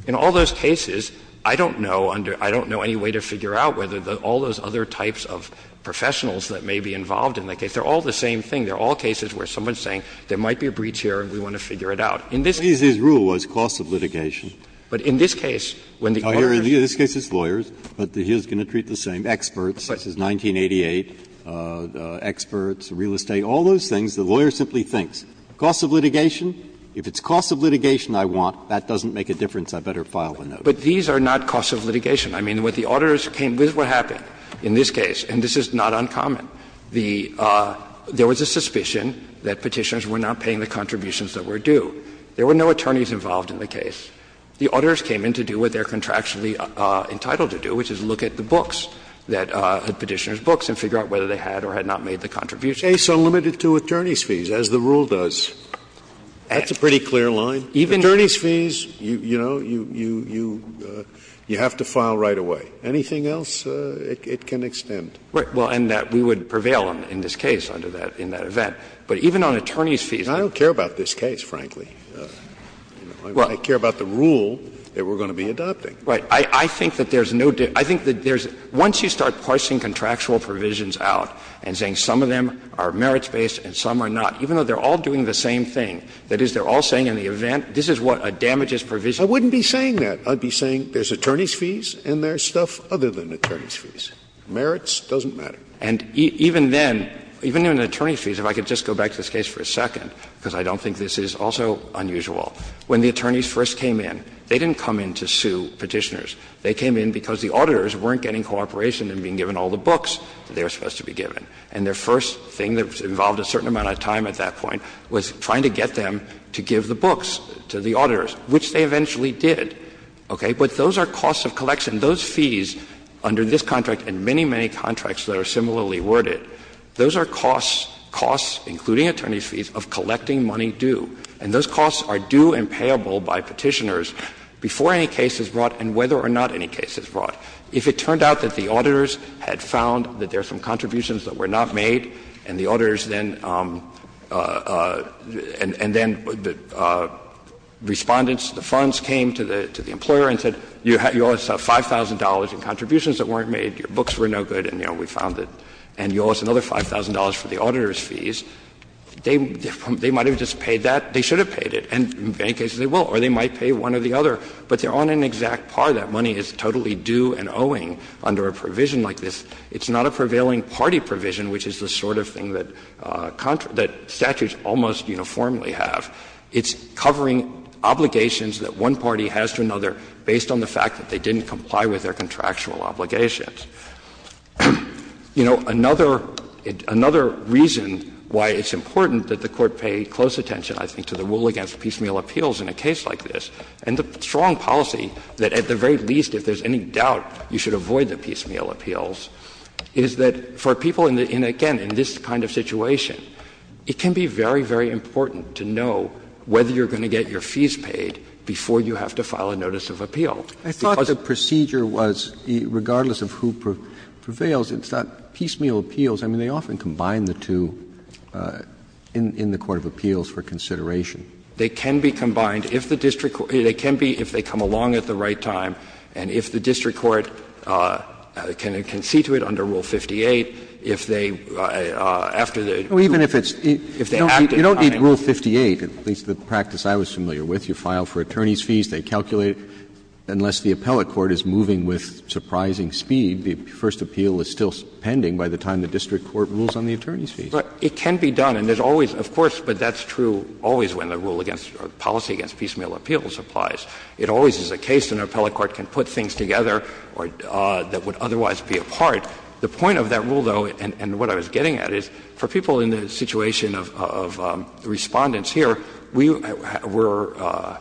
In all those cases, I don't know under – I don't know any way to figure out whether all those other types of professionals that may be involved in the case, they're all the same thing. They're all cases where someone's saying there might be a breach here and we want to figure it out. Breyer. Breyer. Breyer. The rule is costs of litigation. In this case. Breyer. In this case it's lawyers, but he's going to treat the same, experts. This is 1988, experts, real estate, all those things. The lawyer simply thinks, costs of litigation? If it's costs of litigation I want, that doesn't make a difference, I'd better file a notice. But these are not costs of litigation. I mean, when the auditors came, this is what happened in this case, and this is not uncommon. The – there was a suspicion that Petitioners were not paying the contributions that were due. There were no attorneys involved in the case. The auditors came in to do what they're contractually entitled to do, which is look at the books, the Petitioners' books, and figure out whether they had or had not made the contribution. Scalia. So limited to attorney's fees, as the rule does. That's a pretty clear line. Attorney's fees, you know, you have to file right away. Anything else, it can extend. Well, and that we would prevail in this case under that, in that event. But even on attorney's fees. I don't care about this case, frankly. I care about the rule that we're going to be adopting. Right. I think that there's no – I think that there's – once you start parsing contractual provisions out and saying some of them are merits-based and some are not, even though they're all doing the same thing, that is, they're all saying in the event, this is what damages provision. I wouldn't be saying that. I'd be saying there's attorney's fees and there's stuff other than attorney's fees. Merits doesn't matter. And even then, even in attorney's fees, if I could just go back to this case for a moment, because I don't think this is also unusual, when the attorneys first came in, they didn't come in to sue Petitioners. They came in because the auditors weren't getting cooperation in being given all the books that they were supposed to be given. And their first thing that involved a certain amount of time at that point was trying to get them to give the books to the auditors, which they eventually did. Okay? But those are costs of collection. Those fees under this contract and many, many contracts that are similarly worded, those are costs, costs, including attorney's fees, of collecting money due. And those costs are due and payable by Petitioners before any case is brought and whether or not any case is brought. If it turned out that the auditors had found that there are some contributions that were not made and the auditors then — and then the Respondents, the funds came to the employer and said, you owe us $5,000 in contributions that weren't made, your books were no good and, you know, we found it, and you owe us another $5,000 for the auditors' fees, they might have just paid that, they should have paid it, and in many cases they will, or they might pay one or the other, but they're on an exact par, that money is totally due and owing under a provision like this. It's not a prevailing party provision, which is the sort of thing that statutes almost uniformly have. It's covering obligations that one party has to another based on the fact that they didn't comply with their contractual obligations. You know, another reason why it's important that the Court pay close attention, I think, to the rule against piecemeal appeals in a case like this, and the strong policy that at the very least if there's any doubt you should avoid the piecemeal appeals, is that for people in, again, in this kind of situation, it can be very, very important to know whether you're going to get your fees paid before you have to file a notice of appeal. Roberts I thought the procedure was, regardless of who prevails, it's not piecemeal appeals. I mean, they often combine the two in the court of appeals for consideration. They can be combined if the district court, they can be if they come along at the right time, and if the district court can see to it under Rule 58, if they, after the, if they act at the right time. Roberts Even if it's, you don't need Rule 58, at least the practice I was familiar with. You file for attorney's fees, they calculate, unless the appellate court is moving with surprising speed, the first appeal is still pending by the time the district court rules on the attorney's fees. Roberts It can be done, and there's always, of course, but that's true always when the rule against, or policy against piecemeal appeals applies. It always is the case an appellate court can put things together that would otherwise be a part. The point of that rule, though, and what I was getting at, is for people in the situation of Respondents here, we were,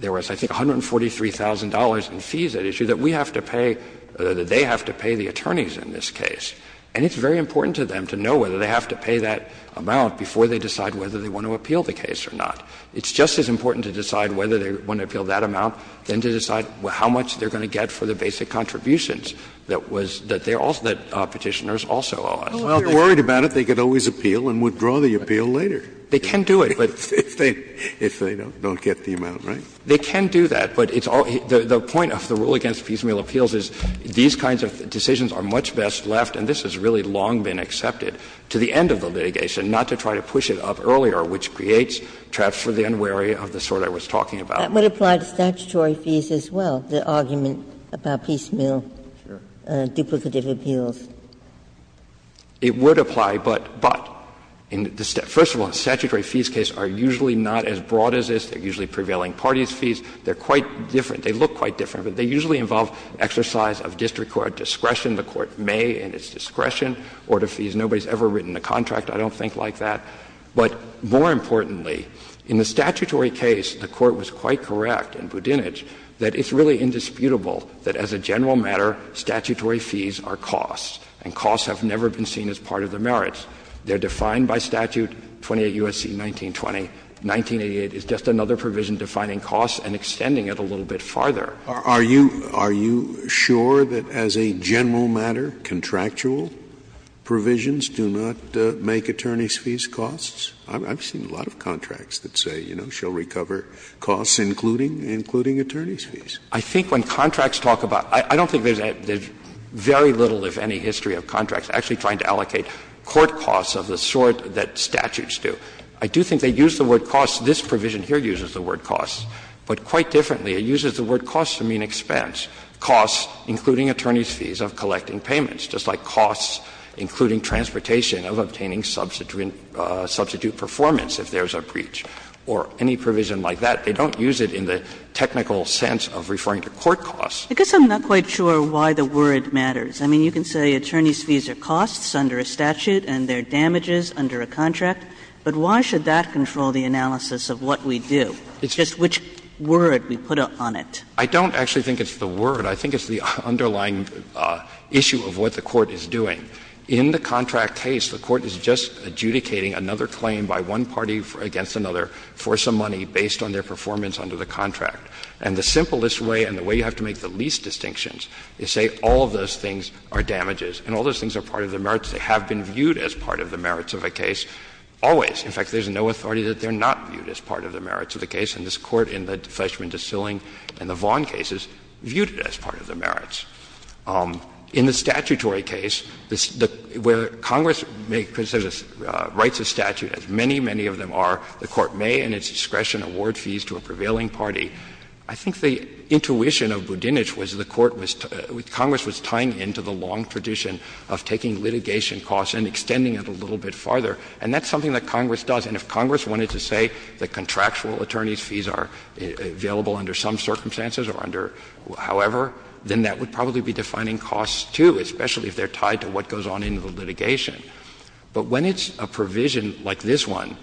there was, I think, $143,000 in fees at issue that we have to pay, that they have to pay the attorneys in this case. And it's very important to them to know whether they have to pay that amount before they decide whether they want to appeal the case or not. It's just as important to decide whether they want to appeal that amount than to decide how much they're going to get for the basic contributions that was, that they also, that Petitioners also owe us. Scalia Well, if they're worried about it, they could always appeal and withdraw the appeal later. Roberts They can do it, but. Scalia If they don't get the amount, right? Roberts They can do that, but it's all, the point of the rule against piecemeal appeals is these kinds of decisions are much best left, and this has really long been accepted, to the end of the litigation, not to try to push it up earlier, which creates traps for the unwary of the sort I was talking about. Ginsburg That would apply to statutory fees as well, the argument about piecemeal duplicative appeals. Roberts It would apply, but, but, first of all, the statutory fees case are usually not as broad as this. They're usually prevailing parties' fees. They're quite different. They look quite different, but they usually involve exercise of district court discretion. The court may, at its discretion, order fees. Nobody's ever written a contract, I don't think, like that. But more importantly, in the statutory case, the Court was quite correct in Budinich that it's really indisputable that as a general matter, statutory fees are costs, and costs have never been seen as part of the merits. They're defined by statute 28 U.S.C. 1920. 1988 is just another provision defining costs and extending it a little bit farther. Scalia Are you, are you sure that as a general matter, contractual provisions do not make attorneys' fees costs? I've seen a lot of contracts that say, you know, she'll recover costs, including attorneys' fees. I think when contracts talk about, I don't think there's a, there's very little, if any, history of contracts actually trying to allocate court costs of the sort that statutes do. I do think they use the word costs. This provision here uses the word costs, but quite differently, it uses the word costs to mean expense. Costs, including attorneys' fees, of collecting payments, just like costs including transportation of obtaining substitute performance if there's a breach, or any provision like that. They don't use it in the technical sense of referring to court costs. Kagan I guess I'm not quite sure why the word matters. I mean, you can say attorneys' fees are costs under a statute and they're damages under a contract, but why should that control the analysis of what we do? It's just which word we put on it. I don't actually think it's the word. I think it's the underlying issue of what the court is doing. In the contract case, the court is just adjudicating another claim by one party against another for some money based on their performance under the contract. And the simplest way and the way you have to make the least distinctions is say all of those things are damages and all those things are part of the merits. They have been viewed as part of the merits of a case always. In fact, there's no authority that they're not viewed as part of the merits of the case, and this Court in the Fleschman Distilling and the Vaughn cases viewed it as part of the merits. In the statutory case, where Congress makes a right to statute, as many, many of them are, the Court may in its discretion award fees to a prevailing party. I think the intuition of Budinich was the Court was to — Congress was tying into the long tradition of taking litigation costs and extending it a little bit farther, and that's something that Congress does. And if Congress wanted to say that contractual attorneys' fees are available under some circumstances or under however, then that would probably be defining costs, too, especially if they're tied to what goes on in the litigation. But when it's a provision like this one,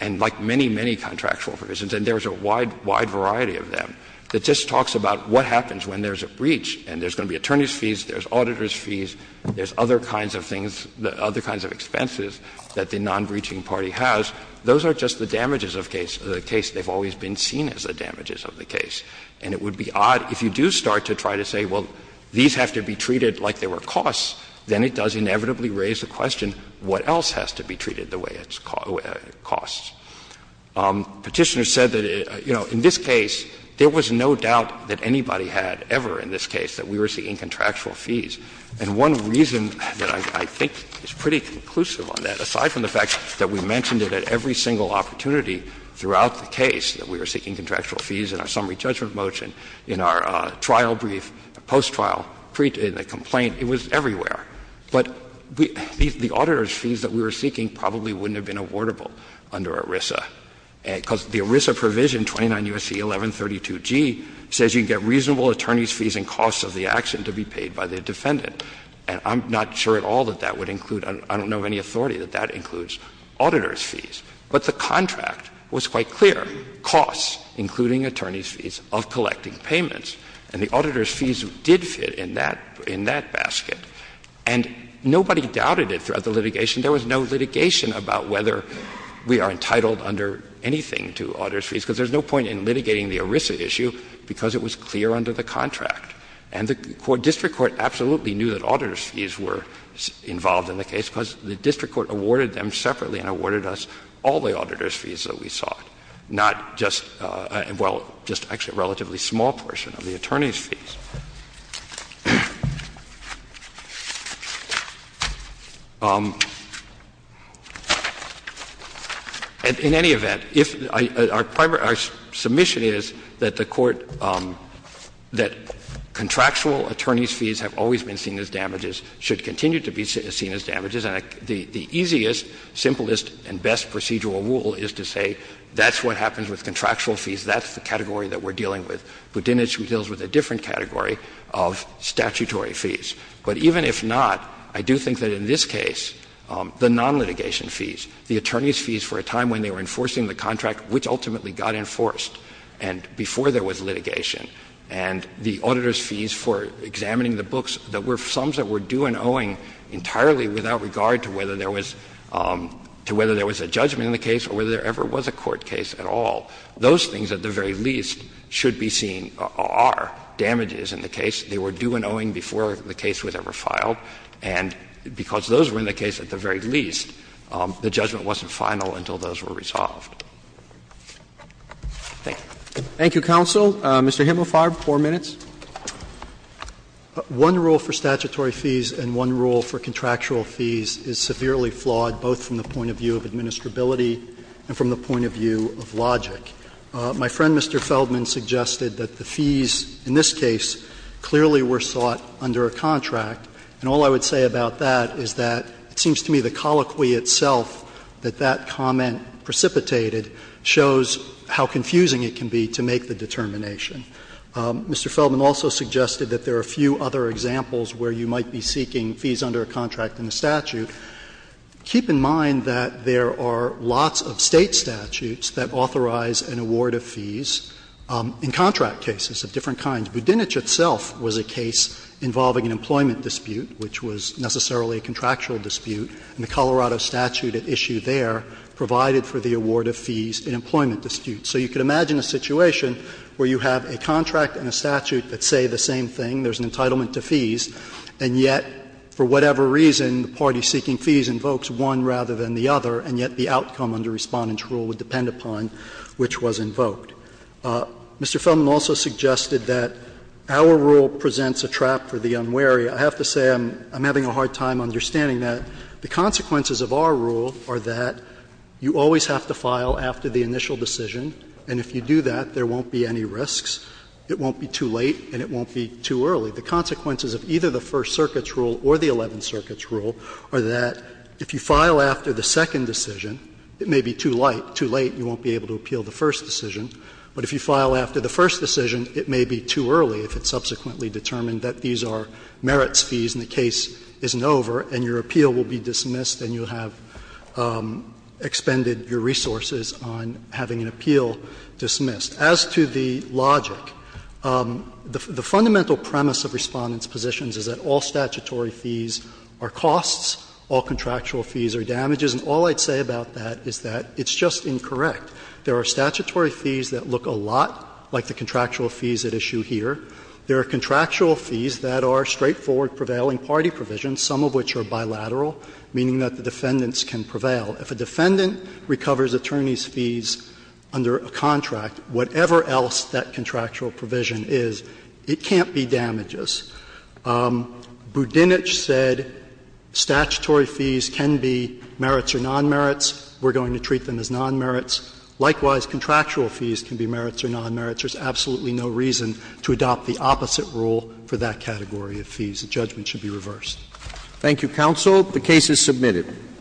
and like many, many contractual provisions, and there's a wide, wide variety of them, that just talks about what happens when there's a breach and there's going to be attorneys' fees, there's auditors' fees, there's other kinds of things, other kinds of expenses that the non-breaching party has, those are just the damages of case, the case they've always been seen as the damages of the case. And it would be odd if you do start to try to say, well, these have to be treated like they were costs, then it does inevitably raise the question, what else has to be treated the way it's cost? Petitioner said that, you know, in this case, there was no doubt that anybody had ever in this case that we were seeking contractual fees. And one reason that I think is pretty conclusive on that, aside from the fact that we mentioned it at every single opportunity throughout the case, that we were seeking contractual fees in our summary judgment motion, in our trial brief, post-trial, in the complaint, it was everywhere. But the auditors' fees that we were seeking probably wouldn't have been awardable under ERISA, because the ERISA provision, 29 U.S.C. 1132g, says you can get reasonable attorneys' fees and costs of the action to be paid by the defendant. And I'm not sure at all that that would include, I don't know of any authority that that includes auditors' fees. But the contract was quite clear, costs, including attorneys' fees, of collecting payments, and the auditors' fees did fit in that — in that basket. And nobody doubted it throughout the litigation. There was no litigation about whether we are entitled under anything to auditors' fees, because there's no point in litigating the ERISA issue because it was clear under the contract. And the district court absolutely knew that auditors' fees were involved in the case that we sought, not just — well, just actually a relatively small portion of the attorneys' fees. In any event, if — our submission is that the Court — that contractual attorneys' fees have always been seen as damages, should continue to be seen as damages. And the easiest, simplest, and best procedural rule is to say that's what happens with contractual fees, that's the category that we're dealing with. Budinich deals with a different category of statutory fees. But even if not, I do think that in this case, the non-litigation fees, the attorneys' fees for a time when they were enforcing the contract, which ultimately got enforced and before there was litigation, and the auditors' fees for examining the books that were sums that were due and owing entirely without regard to whether there was — to whether there was a judgment in the case or whether there ever was a court case at all, those things at the very least should be seen are damages in the case. They were due and owing before the case was ever filed. And because those were in the case at the very least, the judgment wasn't final until those were resolved. Thank you. Roberts. Thank you, counsel. Mr. Himelfarb, 4 minutes. One rule for statutory fees and one rule for contractual fees is severely flawed both from the point of view of administrability and from the point of view of logic. My friend, Mr. Feldman, suggested that the fees in this case clearly were sought under a contract, and all I would say about that is that it seems to me the colloquy itself that that comment precipitated shows how confusing it can be to make the determination. Mr. Feldman also suggested that there are a few other examples where you might be seeking fees under a contract in the statute. Keep in mind that there are lots of State statutes that authorize an award of fees in contract cases of different kinds. Budinich itself was a case involving an employment dispute, which was necessarily a contractual dispute, and the Colorado statute at issue there provided for the award of fees in employment disputes. So you could imagine a situation where you have a contract and a statute that say the same thing, there's an entitlement to fees, and yet for whatever reason the party seeking fees invokes one rather than the other, and yet the outcome under Respondent's rule would depend upon which was invoked. Mr. Feldman also suggested that our rule presents a trap for the unwary. I have to say I'm having a hard time understanding that. The consequences of our rule are that you always have to file after the initial decision, and if you do that, there won't be any risks, it won't be too late, and it won't be too early. The consequences of either the First Circuit's rule or the Eleventh Circuit's rule are that if you file after the second decision, it may be too late, you won't be able to appeal the first decision, but if you file after the first decision, it may be too early if it's subsequently determined that these are merits fees and the case isn't over, and your appeal will be dismissed and you'll have expended your resources on having an appeal dismissed. As to the logic, the fundamental premise of Respondent's positions is that all statutory fees are costs, all contractual fees are damages, and all I'd say about that is that it's just incorrect. There are statutory fees that look a lot like the contractual fees at issue here. There are contractual fees that are straightforward prevailing party provisions, some of which are bilateral, meaning that the defendants can prevail. If a defendant recovers attorney's fees under a contract, whatever else that contractual provision is, it can't be damages. Budinich said statutory fees can be merits or nonmerits. We're going to treat them as nonmerits. Likewise, contractual fees can be merits or nonmerits. There's absolutely no reason to adopt the opposite rule for that category of fees. The judgment should be reversed. Roberts. Thank you, counsel. The case is submitted.